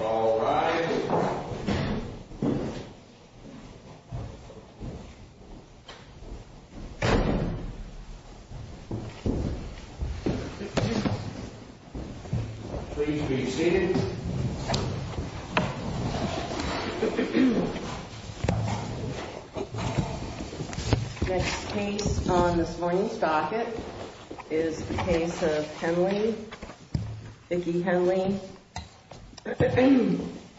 All rise. Please be seated. Next case on this morning's docket is the case of Henley, Vicki Henley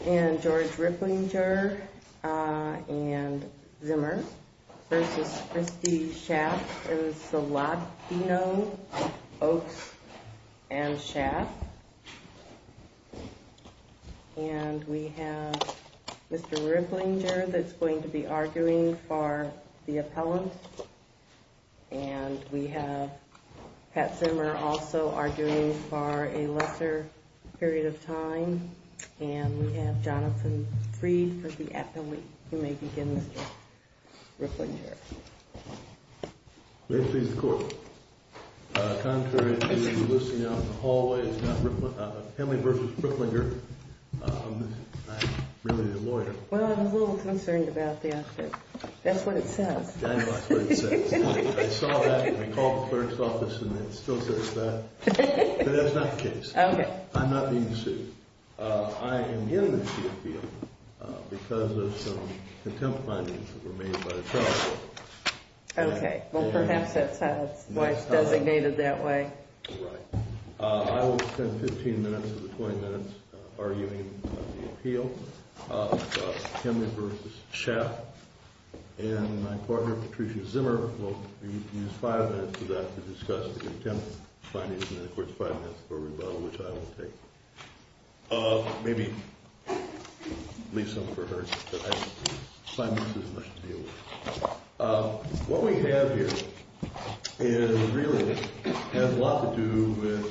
and George Ripplinger and Zimmer v. Christie Schaaf. It is the Labdino, Oaks and Schaaf. And we have Mr. Ripplinger that's going to be arguing for the appellant. And we have Pat Zimmer also arguing for a lesser period of time. And we have Jonathan Freed for the appellant who may begin, Mr. Ripplinger. May I please have the court? Contrary to the listing out in the hallway, it's not Henley v. Ripplinger. I'm really the lawyer. Well, I'm a little concerned about that. That's what it says. Daniel, that's what it says. I saw that and I called the clerk's office and it still says that. But that's not the case. I'm not being sued. I am given the appeal because of some contempt findings that were made by the trial. Okay. Well, perhaps that's how it's designated that way. Right. I will spend 15 minutes of the 20 minutes arguing the appeal of Henley v. Schaaf. And my partner, Patricia Zimmer, will use five minutes of that to discuss the contempt findings and, of course, five minutes for rebuttal, which I will take. Maybe leave some for her. Five minutes isn't much to deal with. What we have here is really has a lot to do with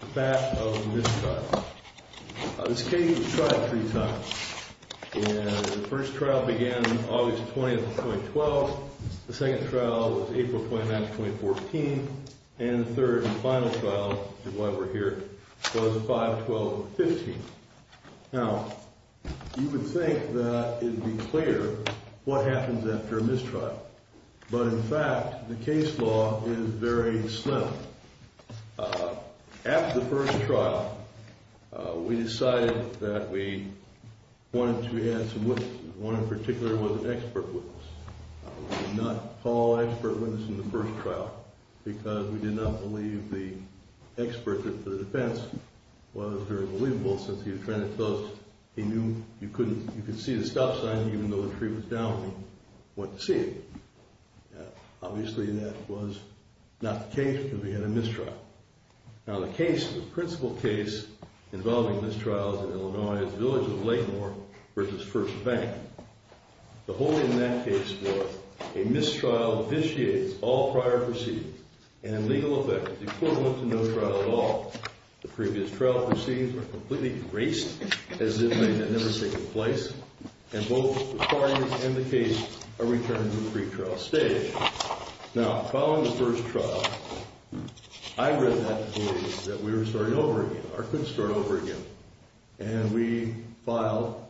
the fact of this trial. This case was tried three times. And the first trial began August 20, 2012. The second trial was April 29, 2014. And the third and final trial, which is why we're here, was 5-12-15. Now, you would think that it would be clear what happens after a mistrial. But, in fact, the case law is very slim. After the first trial, we decided that we wanted to add some witnesses. One in particular was an expert witness. We did not call expert witness in the first trial because we did not believe the expert, the defense, was very believable since he was trying to tell us he knew you could see the stop sign even though the tree was down and he went to see it. Obviously, that was not the case because we had a mistrial. Now, the case, the principal case involving mistrials in Illinois is the village of Lakemore v. First Bank. The holding in that case was a mistrial vitiates all prior proceedings and, in legal effect, is equivalent to no trial at all. The previous trial proceedings were completely erased as if they had never taken place. And both the claimant and the case are returned to the pretrial stage. Now, following the first trial, I read that we were starting over again or could start over again. And we filed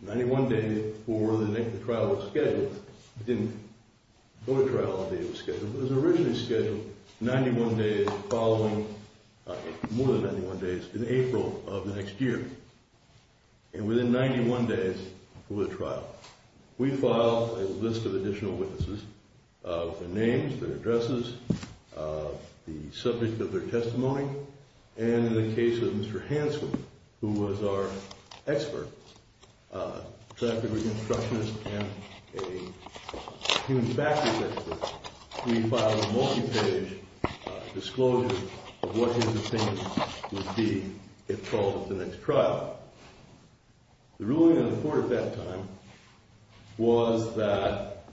91 days before the trial was scheduled. It didn't go to trial the day it was scheduled. It was originally scheduled 91 days following, more than 91 days, in April of the next year. And within 91 days of the trial, we filed a list of additional witnesses with their names, their addresses, the subject of their testimony, and in the case of Mr. Hanson, who was our expert, a traffic reconstructionist and a human factors expert, we filed a multi-page disclosure of what his opinion would be if called at the next trial. The ruling in the court at that time was that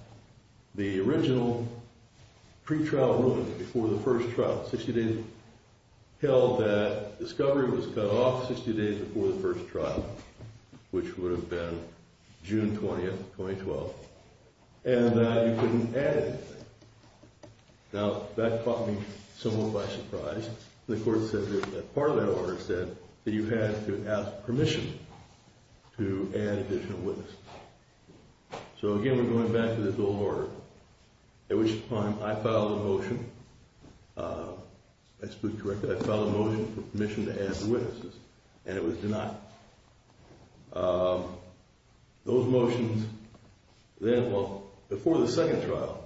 the original pretrial ruling before the first trial, 60 days held that discovery was cut off 60 days before the first trial, which would have been June 20, 2012, and that you couldn't add anything. Now, that caught me somewhat by surprise. The court said that part of that order said that you had to ask permission to add additional witnesses. So, again, we're going back to this old order, at which time I filed a motion. I spoke correctly. I filed a motion for permission to add witnesses, and it was denied. Those motions then, well, before the second trial,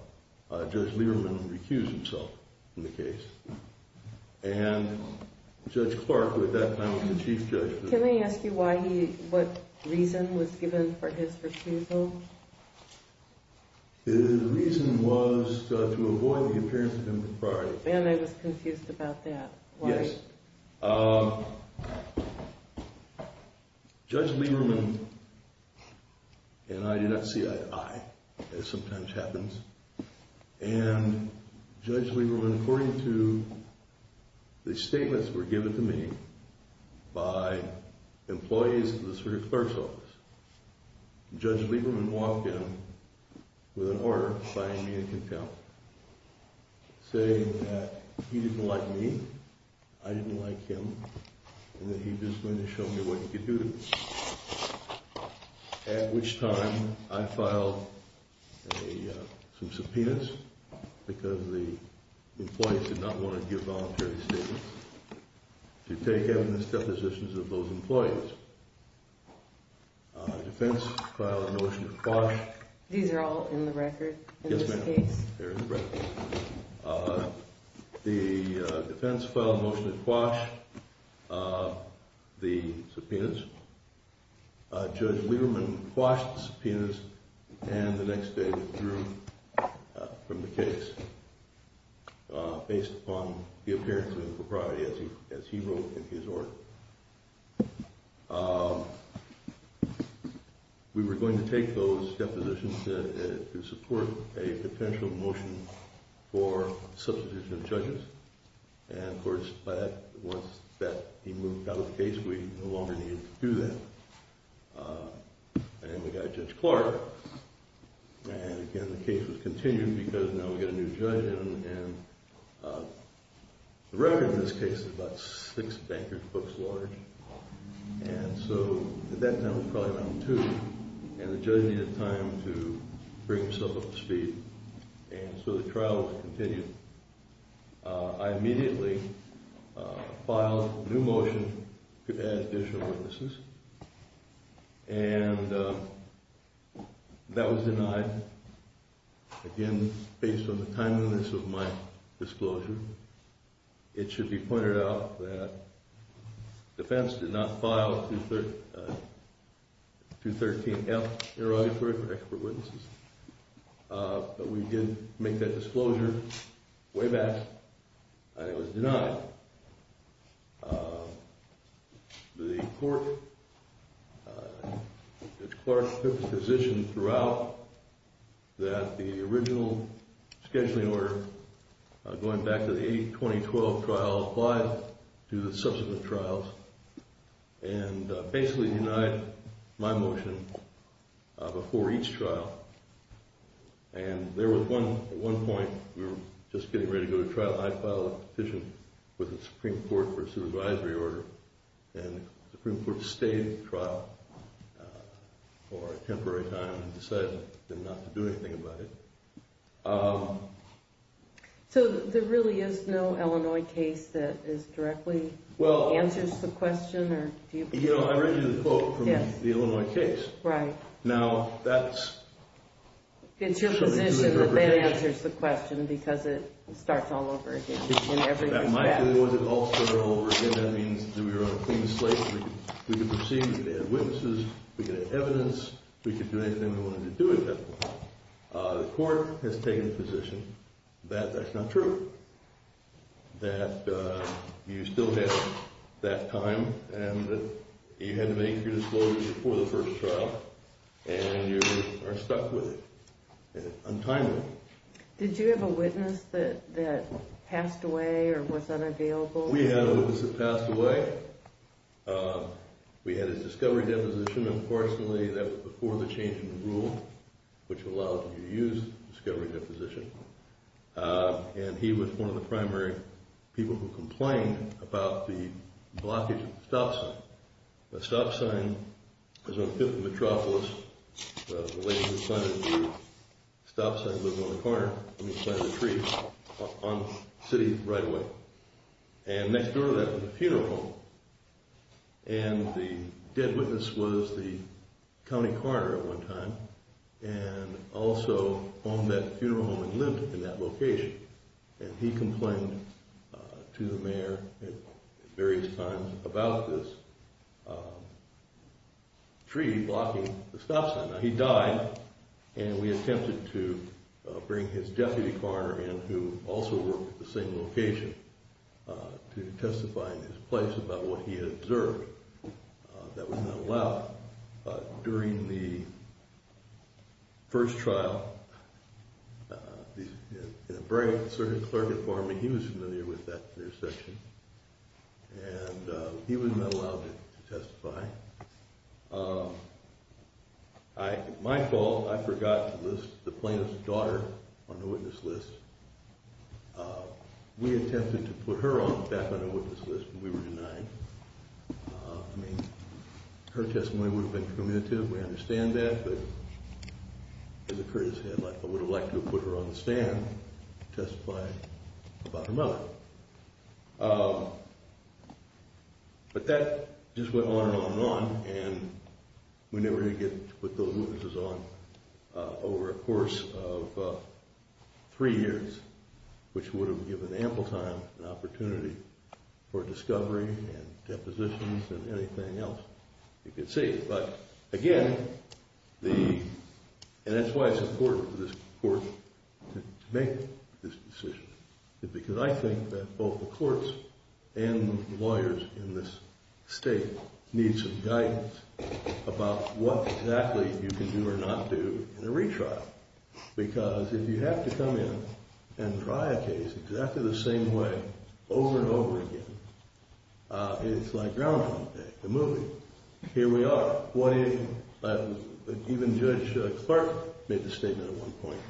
Judge Lieberman recused himself from the case, and Judge Clark, who at that time was the chief judge. Can I ask you what reason was given for his refusal? The reason was to avoid the appearance of impropriety. And I was confused about that. Yes. Judge Lieberman and I do not see eye-to-eye, as sometimes happens, and Judge Lieberman, according to the statements that were given to me by employees of the Superior Clerk's Office, Judge Lieberman walked in with an order signing me in contempt, saying that he didn't like me, I didn't like him, and that he was just going to show me what he could do to me, at which time I filed some subpoenas, because the employees did not want to give voluntary statements, to take evidence depositions of those employees. The defense filed a motion to quash. These are all in the record, in this case? Yes, ma'am. They're in the record. The defense filed a motion to quash the subpoenas. Judge Lieberman quashed the subpoenas, and the next day withdrew from the case, based upon the appearance of impropriety, as he wrote in his order. We were going to take those depositions to support a potential motion for substitution of judges, and, of course, once he moved out of the case, we no longer needed to do that. And we got Judge Clark, and, again, the case was continued, because now we got a new judge, and the record in this case is about six bankers' books large, and so at that time, it was probably around two, and the judge needed time to bring himself up to speed, and so the trial was continued. I immediately filed a new motion to add additional witnesses, and that was denied. Again, based on the timeliness of my disclosure, it should be pointed out that the defense did not file 213-F in her order for expert witnesses, but we did make that disclosure way back, and it was denied. The court, Judge Clark, put the position throughout that the original scheduling order, going back to the 2012 trial, applies to the subsequent trials, and basically denied my motion before each trial, and there was one point, we were just getting ready to go to trial, and I filed a petition with the Supreme Court for a supervisory order, and the Supreme Court stayed in the trial for a temporary time and decided not to do anything about it. So there really is no Illinois case that directly answers the question? You know, I read you the quote from the Illinois case. Right. Now, that's... It's your position that that answers the question, because it starts all over again in every case. That might be the one that all started all over again. That means that we were on a clean slate. We could proceed, we could add witnesses, we could add evidence, we could do anything we wanted to do at that point. The court has taken the position that that's not true, that you still had that time, and that you had to make your disclosure before the first trial, and you are stuck with it, untimely. Did you have a witness that passed away or was unavailable? We had a witness that passed away. We had his discovery deposition. Unfortunately, that was before the change in the rule, which allowed you to use discovery deposition. And he was one of the primary people who complained about the blockage of the stop sign. The stop sign was on 5th and Metropolis. The lady who planted the tree, the stop sign was on the corner when we planted the tree on the city right away. And next door to that was a funeral home. And the dead witness was the county coroner at one time and also owned that funeral home and lived in that location. And he complained to the mayor at various times about this tree blocking the stop sign. Now, he died, and we attempted to bring his deputy coroner in who also worked at the same location to testify in his place about what he had observed. That was not allowed. During the first trial, in a very conservative clerk at Farmer, he was familiar with that intersection, and he was not allowed to testify. My fault, I forgot to list the plaintiff's daughter on the witness list. We attempted to put her back on the witness list, but we were denied. I mean, her testimony would have been cumulative. We understand that, but as a courteous head, I would have liked to have put her on the stand to testify about her mother. But that just went on and on and on, and we never did get to put those witnesses on over a course of three years, which would have given ample time and opportunity for discovery and depositions and anything else you could see. But again, and that's why it's important for this court to make this decision, because I think that both the courts and the lawyers in this state need some guidance about what exactly you can do or not do in a retrial. Because if you have to come in and try a case exactly the same way over and over again, it's like Groundhog Day, the movie. Here we are. Even Judge Clark made the statement at one point,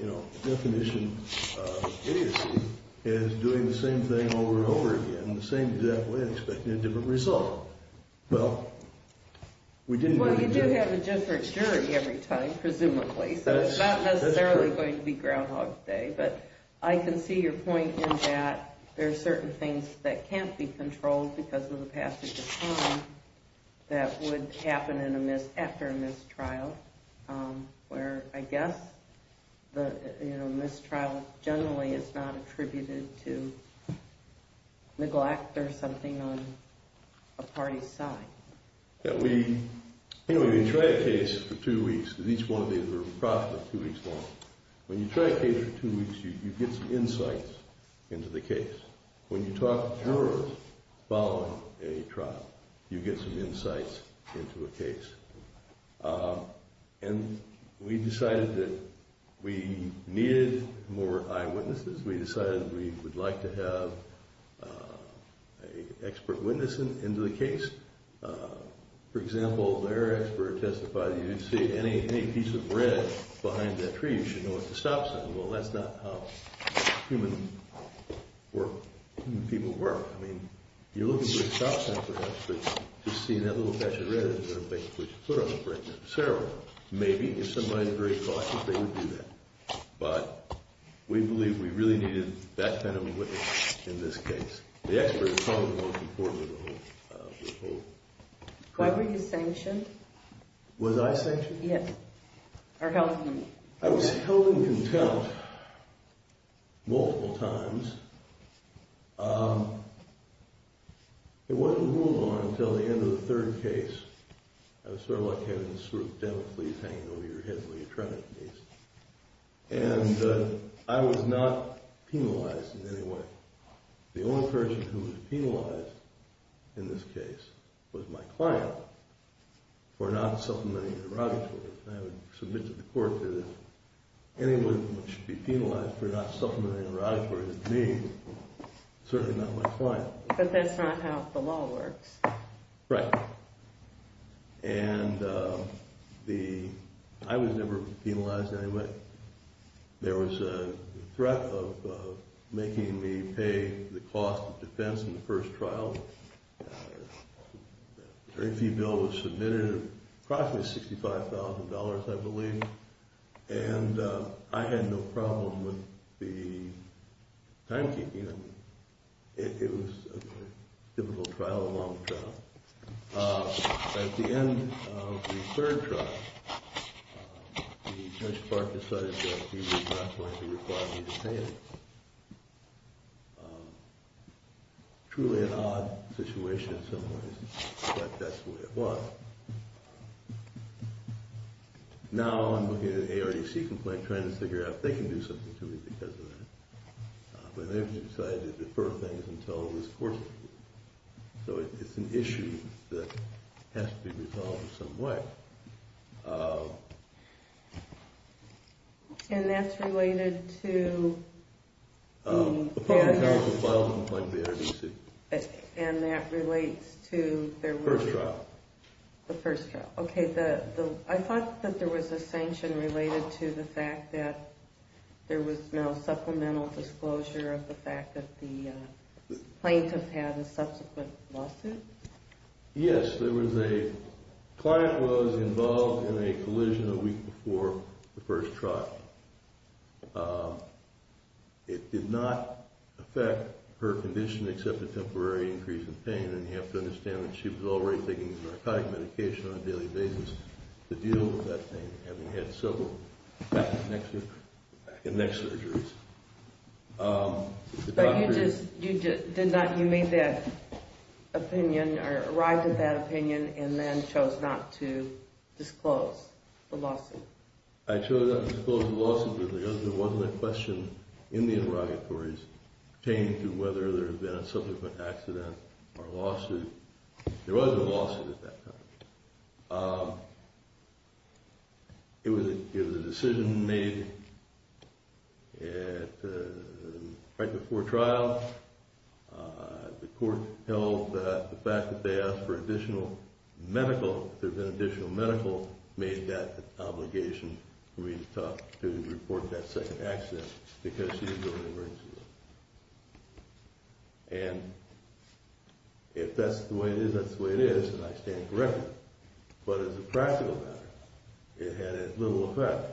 you know, the definition of idiocy is doing the same thing over and over again in the same exact way and expecting a different result. Well, we didn't really do that. So it's not necessarily going to be Groundhog Day. But I can see your point in that there are certain things that can't be controlled because of the passage of time that would happen after a mistrial, where I guess the mistrial generally is not attributed to neglect or something on a party's side. Anyway, we tried a case for two weeks. Each one of these were approximately two weeks long. When you try a case for two weeks, you get some insights into the case. When you talk to jurors following a trial, you get some insights into a case. And we decided that we needed more eyewitnesses. We decided we would like to have an expert witness into the case. For example, their expert testified that if you see any piece of red behind that tree, you should know what the stop sign is. Well, that's not how human people work. I mean, you're looking for a stop sign, perhaps, but just seeing that little patch of red is going to make you put your foot on the brake, necessarily. Maybe, if somebody's very cautious, they would do that. But we believe we really needed that kind of witness in this case. The expert is probably the most important of the whole thing. Were you sanctioned? Was I sanctioned? Yes. Or held in contempt. I was held in contempt multiple times. It wasn't ruled on until the end of the third case. I was sort of like having a sort of dental fleas hanging over your head while you're trying to sneeze. And I was not penalized in any way. The only person who was penalized in this case was my client for not supplementing her radicals. And I would submit to the court that anyone who should be penalized for not supplementing her radicals is me, certainly not my client. But that's not how the law works. Right. And I was never penalized in any way. There was a threat of making me pay the cost of defense in the first trial. A very fee bill was submitted, approximately $65,000, I believe. And I had no problem with the timekeeping. It was a difficult trial, a long trial. At the end of the third trial, the judge decided that he was not going to require me to pay it. Truly an odd situation in some ways, but that's the way it was. Now I'm looking at an ARDC complaint, trying to figure out if they can do something to me because of that. But then he decided to defer things until it was court-ordered. So it's an issue that has to be resolved in some way. And that's related to the ARDC? Approximately $5,000 from the ARDC. And that relates to the first trial? The first trial. Okay. I thought that there was a sanction related to the fact that there was no supplemental disclosure of the fact that the plaintiff had a subsequent lawsuit? Yes. There was a client who was involved in a collision a week before the first trial. It did not affect her condition except a temporary increase in pain. And you have to understand that she was already taking narcotic medication on a daily basis to deal with that pain, having had several back and neck surgeries. But you made that opinion, or arrived at that opinion, and then chose not to disclose the lawsuit? I chose not to disclose the lawsuit because there wasn't a question in the interrogatories pertaining to whether there had been a subsequent accident or lawsuit. There was a lawsuit at that time. It was a decision made right before trial. The court held that the fact that they asked for additional medical, if there had been additional medical, made that obligation for me to report that second accident because she was going to emergency room. And if that's the way it is, that's the way it is, and I stand corrected. But as a practical matter, it had little effect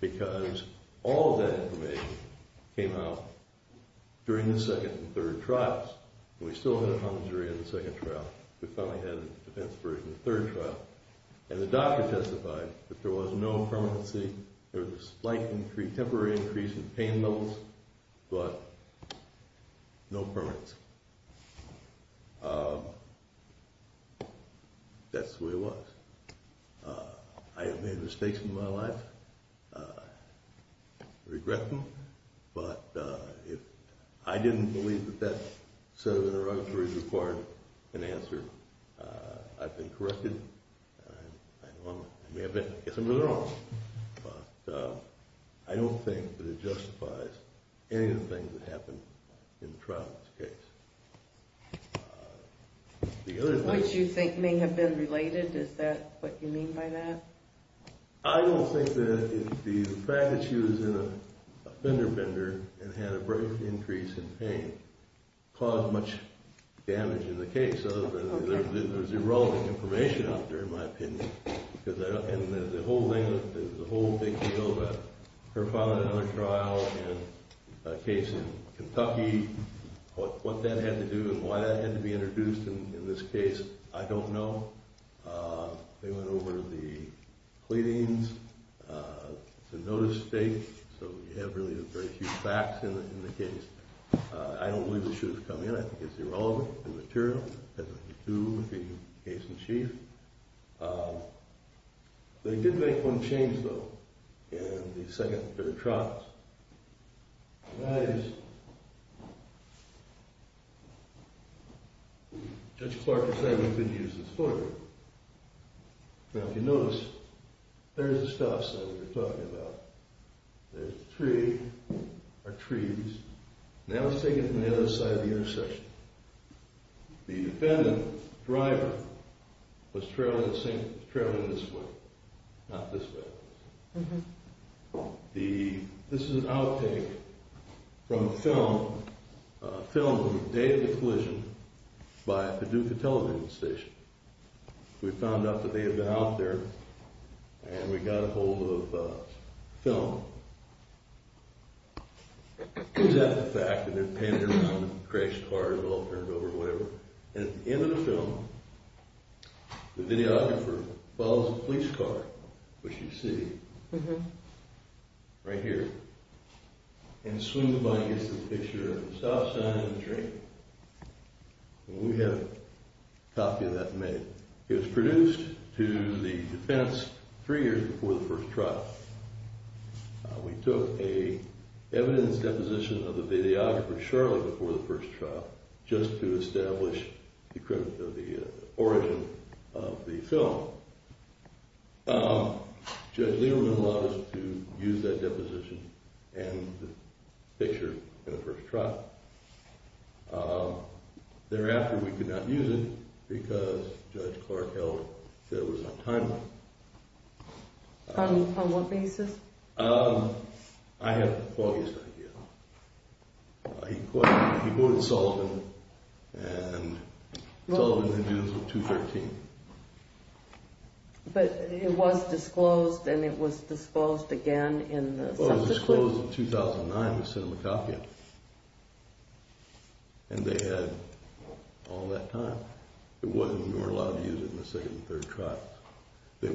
because all of that information came out during the second and third trials. And we still had it on the jury in the second trial. We finally had it in the defense version of the third trial. And the doctor testified that there was no permanency. There was a slight temporary increase in pain levels, but no permanency. That's the way it was. I have made mistakes in my life. I regret them. But I didn't believe that that set of interrogatories required an answer. I've been corrected. I may have been. I guess I'm not at all. But I don't think that it justifies any of the things that happened in the trial in this case. What you think may have been related, is that what you mean by that? I don't think that the fact that she was in a fender bender and had a brief increase in pain caused much damage in the case. There's irrelevant information out there, in my opinion. The whole big deal about her father in another trial and a case in Kentucky, what that had to do and why that had to be introduced in this case, I don't know. They went over the pleadings, the notice of state. So you have really very few facts in the case. I don't believe it should have come in. That is irrelevant and material. It has nothing to do with the case in chief. They did make one change, though, in the second pair of trots. That is, Judge Clark decided he could use his foot. Now, if you notice, there's the stops that we were talking about. There's the tree, our trees. That was taken from the other side of the intersection. The defendant's driver was traveling this way, not this way. This is an outtake from a film, a film from the day of the collision by Paducah television station. We found out that they had been out there, and we got a hold of film. It was after the fact that they were panning around, crashed cars, overturned over, whatever, and at the end of the film, the videographer follows a police car, which you see right here, and swings by and gets the picture of the stop sign and the tree. We have a copy of that made. It was produced to the defense three years before the first trial. We took an evidence deposition of the videographer shortly before the first trial just to establish the origin of the film. Judge Lederman allowed us to use that deposition and the picture in the first trial. Thereafter, we could not use it because Judge Clark held that it was untimely. On what basis? I have the foggiest idea. He quoted Sullivan, and Sullivan had used it in 2013. But it was disclosed, and it was disclosed again in the subsequent... Well, it was disclosed in 2009. We sent them a copy of it. And they had all that time. We weren't allowed to use it in the second and third trials. The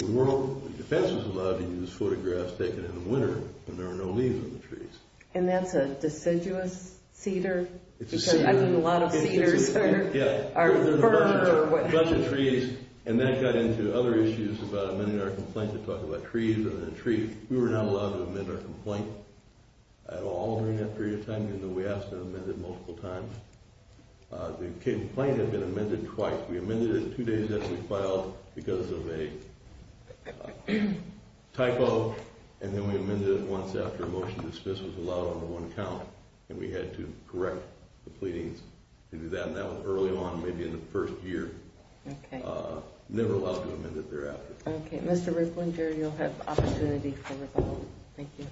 defense was allowed to use photographs taken in the winter when there were no leaves on the trees. And that's a deciduous cedar? It's a cedar. I mean, a lot of cedars are ferns or what have you. And that got into other issues about amending our complaint to talk about trees and the tree. We were not allowed to amend our complaint at all during that period of time, even though we asked to amend it multiple times. The complaint had been amended twice. We amended it two days after it was filed because of a typo, and then we amended it once after a motion to dismiss was allowed under one count, and we had to correct the pleadings to do that. And that was early on, maybe in the first year. Never allowed to amend it thereafter. Okay. Mr. Rickland, Jerry, you'll have the opportunity to respond. Thank you.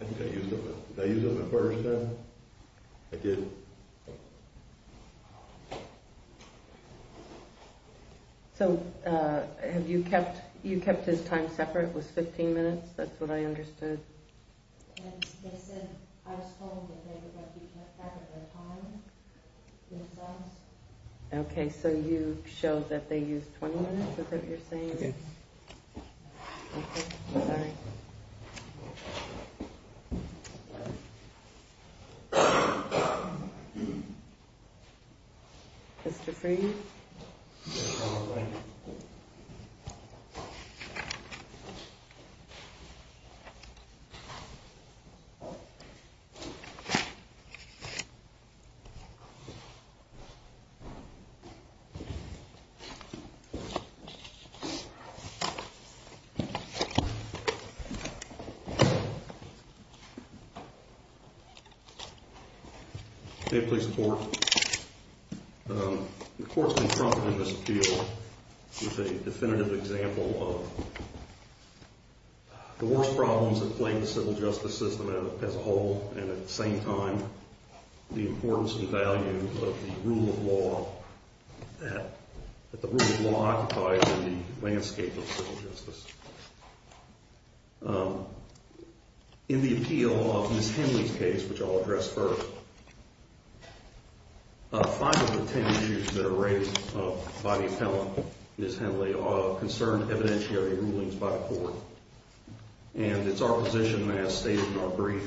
I think I used it. Did I use it the first time? I did. So have you kept his time separate? It was 15 minutes. That's what I understood. They said I was told that they would let you have their time. Okay. So you showed that they used 20 minutes, is that what you're saying? Yes. Okay. Sorry. Mr. Freed? Yeah, I'm all right. Okay. Okay, please report. The courts confronted in this appeal is a definitive example of the worst problems that plague the civil justice system as a whole, and at the same time, the importance and value of the rule of law that the rule of law occupies in the landscape of civil justice. In the appeal of Ms. Henley's case, which I'll address first, five of the 10 issues that are raised by the appellant, Ms. Henley, are concerned evidentiary rulings by the court. And it's our position, as stated in our brief,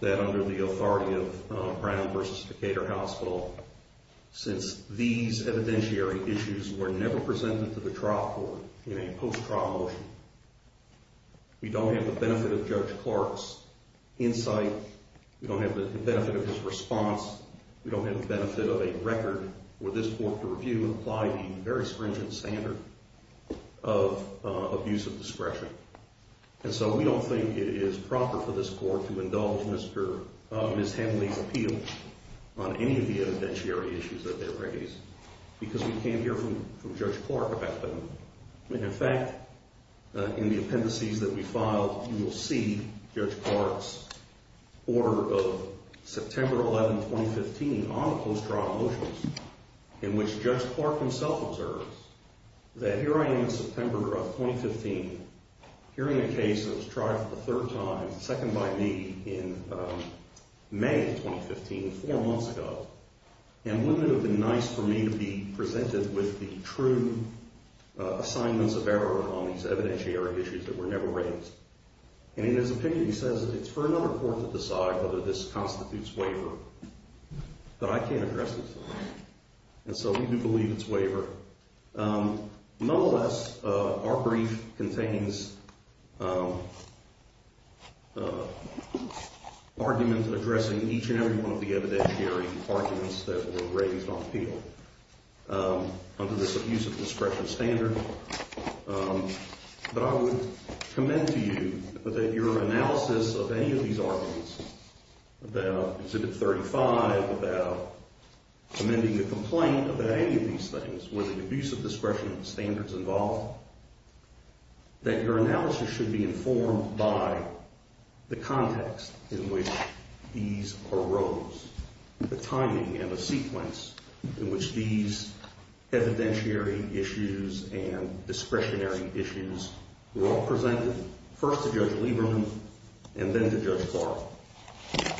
that under the authority of Brown v. Decatur Hospital, since these evidentiary issues were never presented to the trial court in a post-trial motion, we don't have the benefit of Judge Clark's insight, we don't have the benefit of his response, we don't have the benefit of a record for this court to review and apply the very stringent standard of abuse of discretion. And so we don't think it is proper for this court to indulge Ms. Henley's appeal on any of the evidentiary issues that they raise because we can't hear from Judge Clark about them. In fact, in the appendices that we filed, you will see Judge Clark's order of September 11, 2015, on post-trial motions, in which Judge Clark himself observes that here I am in September of 2015, hearing a case that was tried for the third time, second by me, in May of 2015, four months ago, and wouldn't it have been nice for me to be presented with the true assignments of error on these evidentiary issues that were never raised? And in his opinion, he says, it's for another court to decide whether this constitutes waiver, but I can't address it. And so we do believe it's waiver. Nonetheless, our brief contains arguments addressing each and every one of the evidentiary arguments that were raised on appeal under this abuse of discretion standard. But I would commend to you that your analysis of any of these arguments, about Exhibit 35, about amending the complaint about any of these things with the abuse of discretion standards involved, that your analysis should be informed by the context in which these arose, the timing and the sequence in which these evidentiary issues and discretionary issues were all presented, first to Judge Lieberman and then to Judge Clark.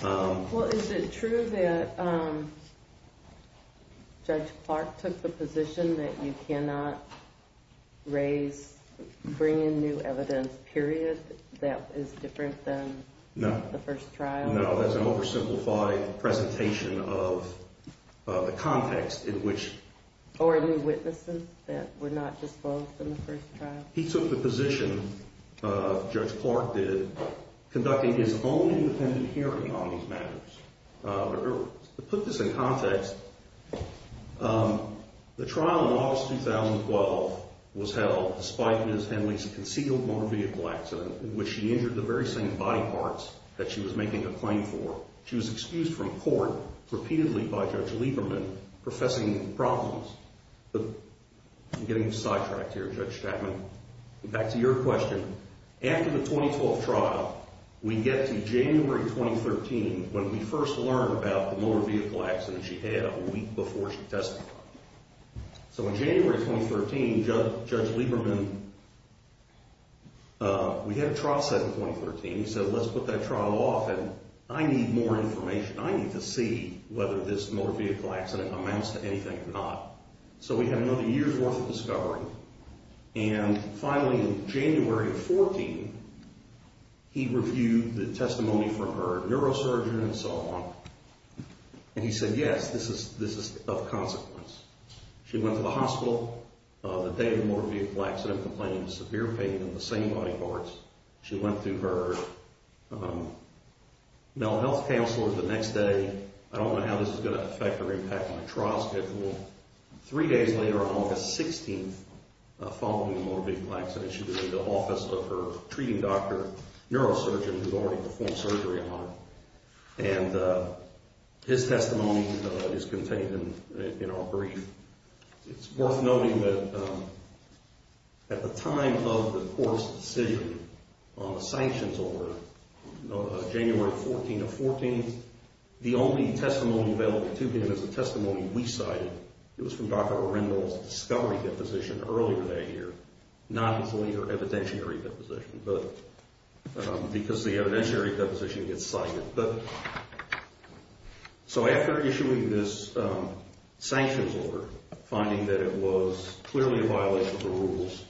Well, is it true that Judge Clark took the position that you cannot raise, bring in new evidence, period, that is different than the first trial? No, that's an oversimplified presentation of the context in which... Or new witnesses that were not disposed in the first trial. He took the position, Judge Clark did, conducting his own independent hearing on these matters. To put this in context, the trial in August 2012 was held, despite Ms. Henley's concealed motor vehicle accident in which she injured the very same body parts that she was making a claim for. She was excused from court repeatedly by Judge Lieberman, professing problems. I'm getting sidetracked here, Judge Chapman. Back to your question. After the 2012 trial, we get to January 2013 when we first learn about So in January 2013, Judge Lieberman... We had a trial set in 2013. He said, let's put that trial off and I need more information. I need to see whether this motor vehicle accident amounts to anything or not. So we had another year's worth of discovery. And finally in January of 14, he reviewed the testimony from her neurosurgeon and so on. And he said, yes, this is of consequence. She went to the hospital the day of the motor vehicle accident complaining of severe pain in the same body parts. She went through her mental health counselor the next day. I don't know how this is going to affect her impact on the trial schedule. Three days later on August 16, following the motor vehicle accident, she was in the office of her treating doctor neurosurgeon, who's already performed surgery on her. And his testimony is contained in our brief. It's worth noting that at the time of the court's decision on the sanctions order, January 14 of 14, the only testimony available to him is the testimony we cited. It was from Dr. Orendel's discovery deposition earlier that year, not his later evidentiary deposition. Because the evidentiary deposition gets cited. So after issuing this sanctions order, finding that it was clearly a violation of the rules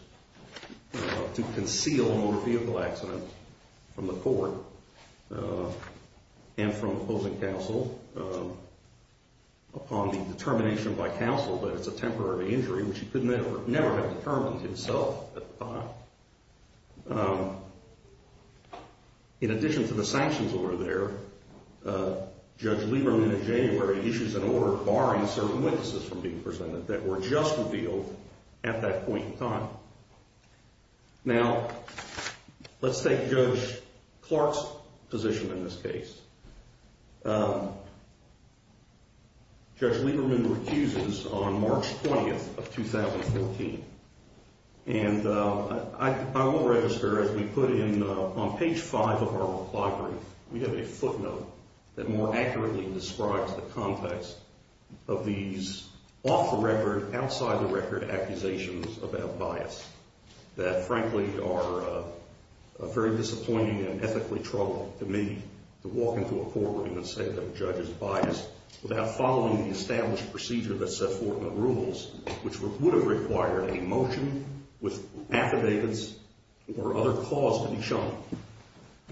to conceal a motor vehicle accident from the court and from opposing counsel, upon the determination by counsel that it's a temporary injury, which he could never have determined himself at the time. In addition to the sanctions order there, Judge Lieberman in January issues an order barring certain witnesses from being presented that were just revealed at that point in time. Now, let's take Judge Clark's position in this case. Judge Lieberman recuses on March 20 of 2014. And I will register, as we put in on page 5 of our reply brief, we have a footnote that more accurately describes the context of these off-the-record, outside-the-record accusations about bias that, frankly, are a very disappointing and ethically troubling to me, to walk into a courtroom and say that a judge is biased without following the established procedure that's set forth in the rules, which would have required a motion with affidavits or other clause to be shown.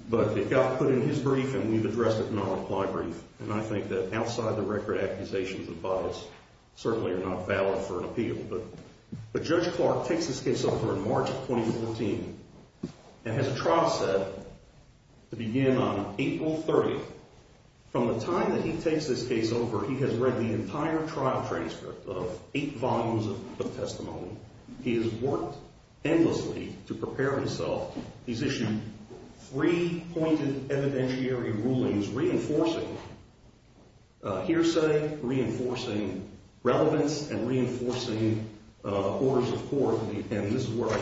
But it got put in his brief, and we've addressed it in our reply brief. And I think that outside-the-record accusations of bias certainly are not valid for an appeal. But Judge Clark takes this case over in March 2014 and has a trial set to begin on April 30. From the time that he takes this case over, he has read the entire trial transcript of eight volumes of testimony. He has worked endlessly to prepare himself. He's issued three pointed evidentiary rulings reinforcing hearsay, reinforcing relevance, and reinforcing orders of court. And this is where I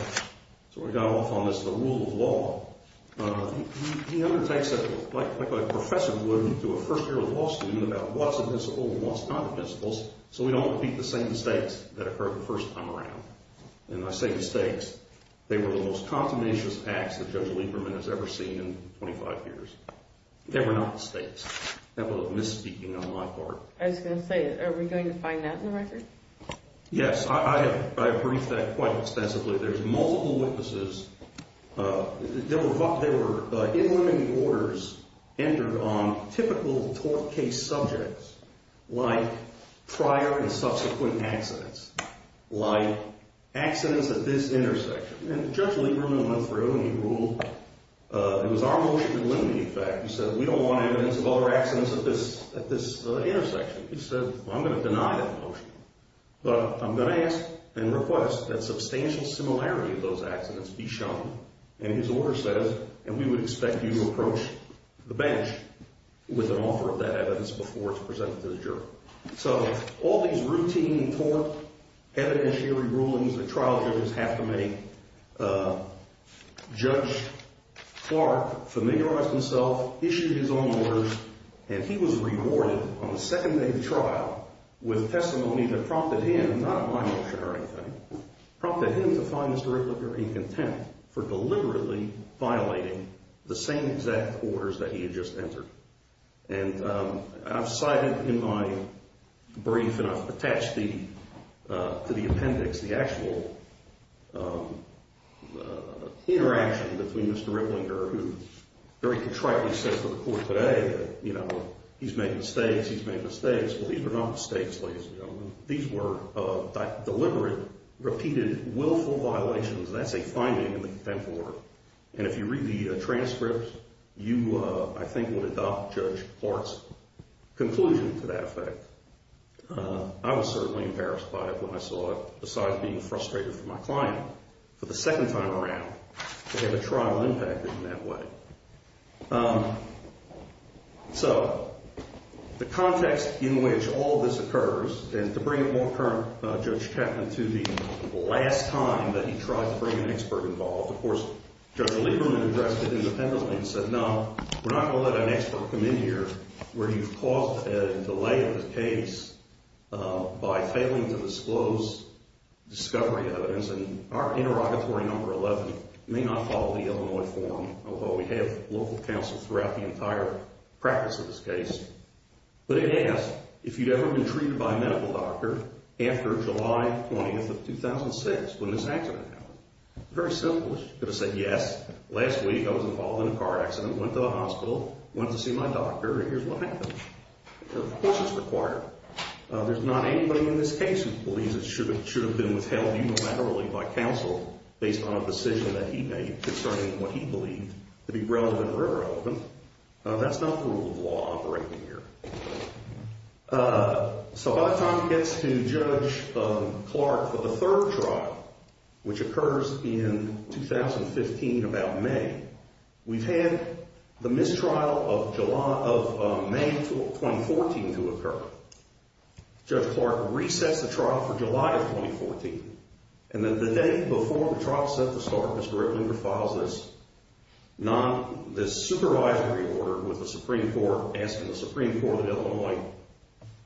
sort of got off on this, the rule of law. He undertakes it like a professor would to a first-year law student about what's admissible and what's not admissible so we don't repeat the same mistakes that occurred the first time around. And I say mistakes. They were the most consummationist acts that Judge Lieberman has ever seen in 25 years. They were not mistakes. I have a little misspeaking on my part. I was going to say, are we going to find that in the record? Yes. I have briefed that quite extensively. There's multiple witnesses. There were inlimiting orders entered on typical tort case subjects like prior and subsequent accidents, like accidents at this intersection. And Judge Lieberman went through and he ruled it was our motion to delimit the effect. He said, we don't want evidence of other accidents at this intersection. He said, well, I'm going to deny that motion, but I'm going to ask and request that substantial similarity of those accidents be shown. And his order says, and we would expect you to approach the bench with an offer of that evidence before it's presented to the jury. So all these routine tort evidentiary rulings that trial jurors have to make, Judge Clark familiarized himself, issued his own orders, and he was rewarded on the second day of trial with testimony that prompted him, not my motion or anything, prompted him to find Mr. Ricklipper in contempt for deliberately violating the same exact orders that he had just entered. And I've cited in my brief, and I've attached to the appendix, the actual interaction between Mr. Ricklinger, who very contritely says to the court today that, you know, he's made mistakes, he's made mistakes. Well, these were not mistakes, ladies and gentlemen. These were deliberate, repeated, willful violations. That's a finding in the contempt order. And if you read the transcripts, you, I think, would adopt Judge Clark's conclusion to that effect. I was certainly embarrassed by it when I saw it, besides being frustrated for my client for the second time around to have a trial impacted in that way. So the context in which all this occurs, and to bring it more current, Judge Chapman, to the last time that he tried to bring an expert involved, of course, Judge Lieberman addressed it independently and said, no, we're not going to let an expert come in here where you've caused a delay in the case by failing to disclose discovery evidence. And our interrogatory number 11 may not follow the Illinois form, although we have local counsel throughout the entire practice of this case. But it asked if you'd ever been treated by a medical doctor after July 20th of 2006 when this accident happened. Very simple. You could have said, yes, last week I was involved in a car accident, went to the hospital, went to see my doctor, and here's what happened. Of course it's required. There's not anybody in this case who believes it should have been withheld unilaterally by counsel based on a decision that he made concerning what he believed to be relevant or irrelevant. That's not the rule of law operating here. So by the time it gets to Judge Clark for the third trial, which occurs in 2015, about May, we've had the mistrial of May of 2014 to occur. Judge Clark resets the trial for July of 2014. And then the day before the trial set to start, Mr. Rick Lieber files this supervisory order with the Supreme Court of Illinois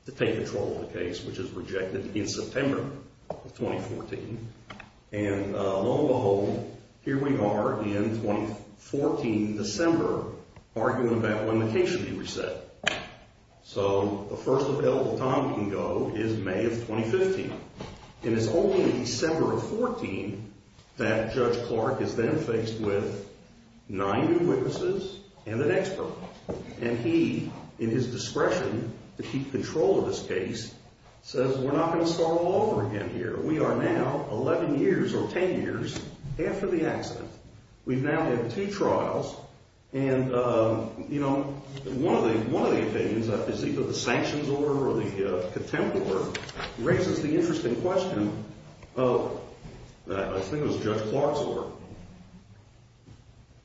to take control of the case, which is rejected in September of 2014. And lo and behold, here we are in 2014, December, arguing about when the case should be reset. So the first available time we can go is May of 2015. And it's only in December of 2014 that Judge Clark is then faced with nine new witnesses and an expert. And he, in his discretion to keep control of this case, says we're not going to start all over again here. We are now 11 years or 10 years after the accident. We've now had two trials. And, you know, one of the opinions I've received of the sanctions order or the contempt order raises the interesting question of, I think it was Judge Clark's order,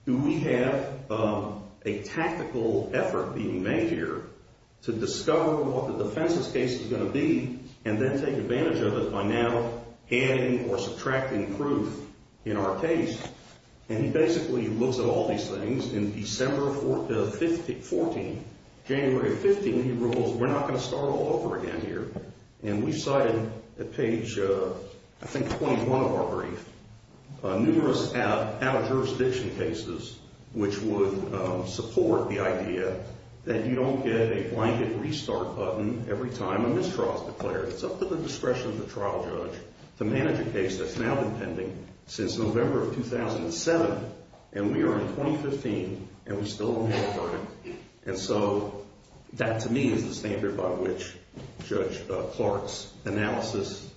do we have a tactical effort being made here to discover what the defense's case is going to be and then take advantage of it by now adding or subtracting proof in our case? And he basically looks at all these things. In December 14, January 15, he rules we're not going to start all over again here. And we cited at page, I think, 21 of our brief, numerous out-of-jurisdiction cases which would support the idea that you don't get a blanket restart button every time a mistrial is declared. It's up to the discretion of the trial judge to manage a case that's now been pending since November of 2007. And we are in 2015, and we still don't have time. And so that, to me, is the standard by which Judge Clark's analysis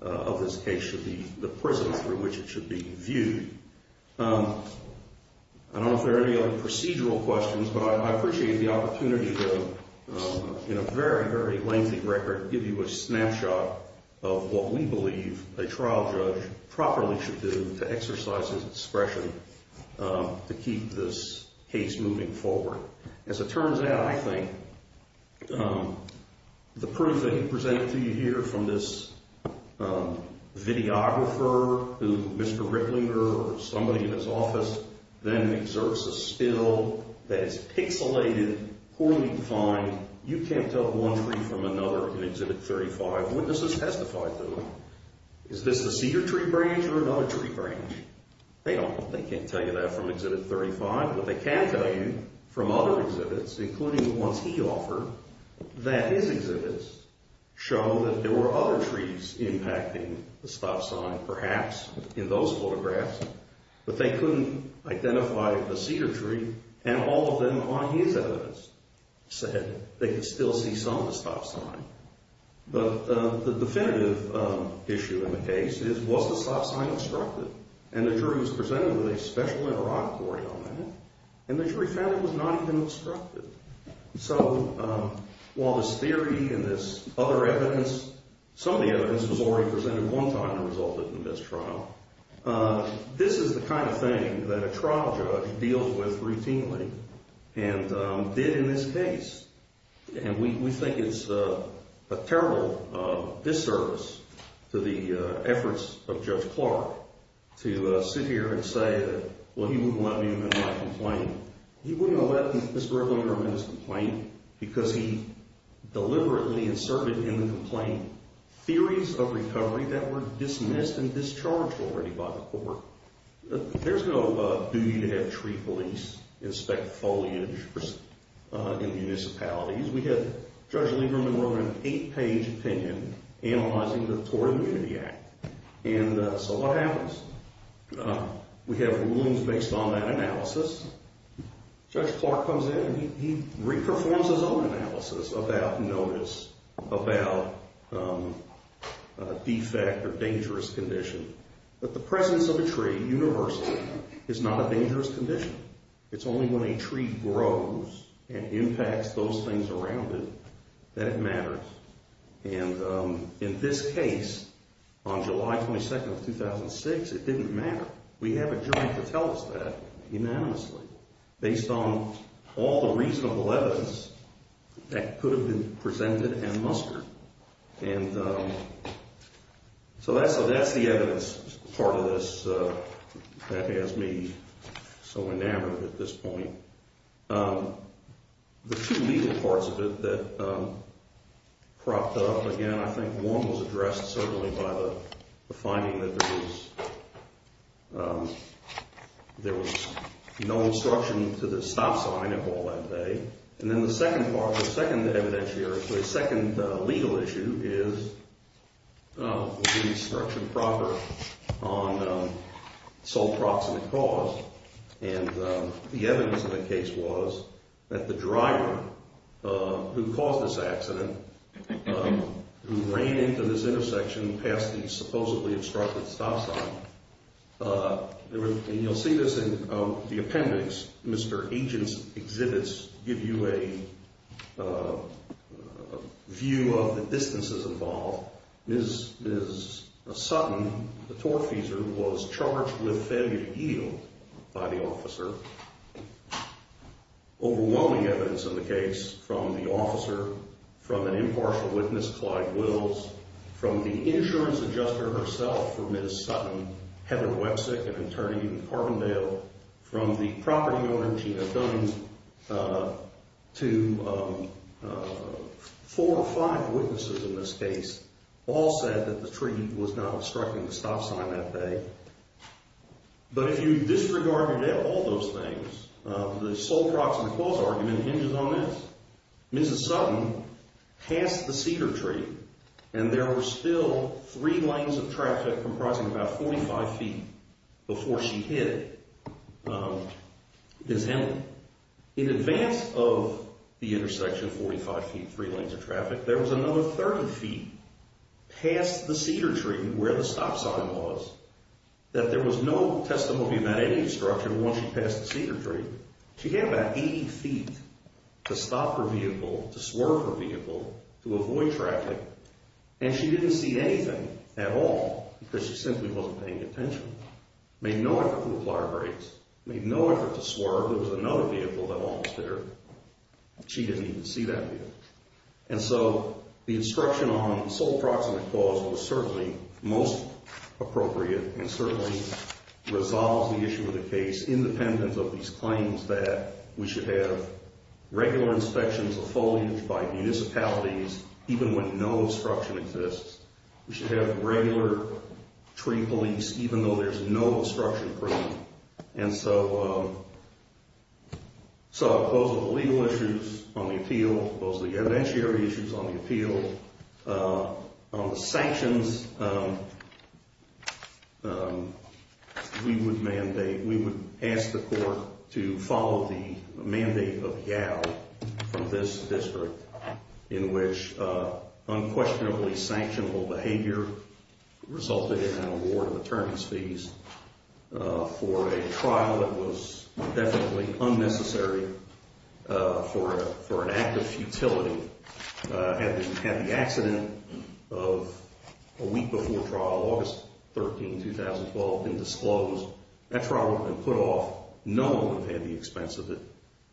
of this case should be the prison through which it should be viewed. I don't know if there are any other procedural questions, but I appreciate the opportunity to, in a very, very lengthy record, give you a snapshot of what we believe a trial judge properly should do to exercise his discretion to keep this case moving forward. As it turns out, I think the proof that he presented to you here from this videographer who Mr. Ricklinger or somebody in his office then exerts a still that is pixelated, poorly defined. You can't tell one tree from another in Exhibit 35. Witnesses testified to them. Is this the cedar tree branch or another tree branch? They can't tell you that from Exhibit 35. But they can tell you from other exhibits, including the ones he offered, that his exhibits show that there were other trees impacting the stop sign, perhaps in those photographs, but they couldn't identify the cedar tree, and all of them on his evidence said they could still see some of the stop sign. But the definitive issue in the case is, was the stop sign obstructed? And the jury was presented with a special interrogatory on that, and the jury found it was not even obstructed. So while this theory and this other evidence, some of the evidence was already presented one time and resulted in this trial, this is the kind of thing that a trial judge deals with routinely and did in this case. And we think it's a terrible disservice to the efforts of Judge Clark to sit here and say that, well, he wouldn't let me make my complaint. He wouldn't let Mr. Lieberman make his complaint because he deliberately inserted in the complaint theories of recovery that were dismissed and discharged already by the court. There's no duty to have tree police inspect foliage in municipalities. We have Judge Lieberman wrote an eight-page opinion analyzing the Tory Immunity Act. And so what happens? We have rulings based on that analysis. Judge Clark comes in and he re-performs his own analysis about notice, about defect or dangerous condition. But the presence of a tree universally is not a dangerous condition. It's only when a tree grows and impacts those things around it that it matters. And in this case, on July 22nd of 2006, it didn't matter. We have a jury to tell us that unanimously based on all the reasonable evidence that could have been presented and mustered. And so that's the evidence part of this that has me so enamored at this point. The two legal parts of it that propped up again, I think one was addressed certainly by the finding that there was no instruction to the stop sign of all that day. And then the second part, the second evidence here, the second legal issue is the instruction proper on sole proximate cause. And the evidence of the case was that the driver who caused this accident, who ran into this intersection past the supposedly obstructed stop sign, and you'll see this in the appendix. Mr. Agent's exhibits give you a view of the distances involved. Ms. Sutton, the tour feeser, was charged with failure to yield by the officer. Overwhelming evidence in the case from the officer, from an impartial witness, Clyde Wills, from the insurance adjuster herself for Ms. Sutton, Heather Websick, an attorney in Carbondale, from the property owner, Tina Dunn, to four or five witnesses in this case, all said that the tree was not obstructing the stop sign that day. But if you disregard all those things, the sole proximate cause argument hinges on this. Mrs. Sutton passed the cedar tree, and there were still three lanes of traffic comprising about 45 feet before she hit Ms. Henry. In advance of the intersection, 45 feet, three lanes of traffic, there was another 30 feet past the cedar tree where the stop sign was that there was no testimony about any obstruction once she passed the cedar tree. She had about 80 feet to stop her vehicle, to swerve her vehicle, to avoid traffic, and she didn't see anything at all because she simply wasn't paying attention. Made no effort to apply her brakes. Made no effort to swerve. There was another vehicle that almost hit her. She didn't even see that vehicle. And so the instruction on the sole proximate cause was certainly most appropriate and certainly resolves the issue of the case independent of these claims that we should have regular inspections of foliage by municipalities even when no obstruction exists. We should have regular tree police even though there's no obstruction present. And so those are the legal issues on the appeal. Those are the evidentiary issues on the appeal. On the sanctions, we would mandate, from this district, in which unquestionably sanctionable behavior resulted in an award of attorney's fees for a trial that was definitely unnecessary for an act of futility. Had the accident of a week before trial, August 13, 2012, been disclosed, that trial would have been put off. No one would have had the expense of it.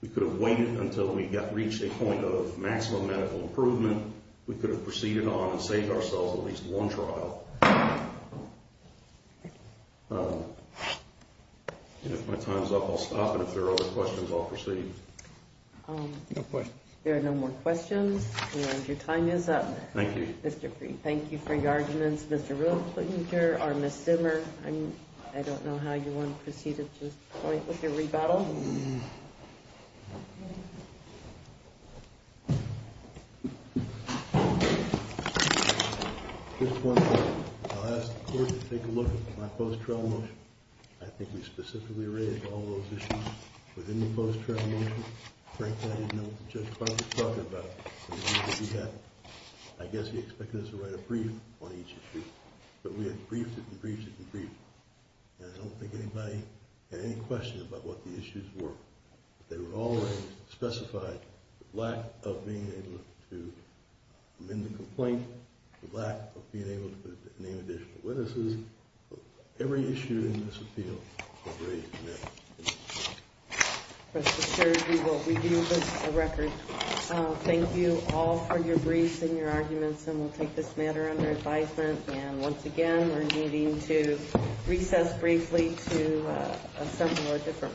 We could have waited until we reached a point of maximum medical improvement. We could have proceeded on and saved ourselves at least one trial. And if my time's up, I'll stop. And if there are other questions, I'll proceed. No questions. There are no more questions. And your time is up. Thank you. Thank you for your arguments, Mr. Roethlanger or Ms. Zimmer. I don't know how you want to proceed with your rebattle. Just one thing. I'll ask the court to take a look at my post-trial motion. I think we specifically raised all those issues within the post-trial motion. Frankly, I didn't know what the judge probably thought about it. I guess he expected us to write a brief on each issue. But we have briefed it and briefed it and briefed it. And I don't think anybody had any question about what the issues were. They were all raised, specified, the lack of being able to amend the complaint, the lack of being able to name additional witnesses. Every issue in this appeal was raised in that. Mr. Sturgey, we will review this as a record. Thank you all for your briefs and your arguments. And we'll take this matter under advisement. And once again, we're needing to recess briefly to assemble our different panels.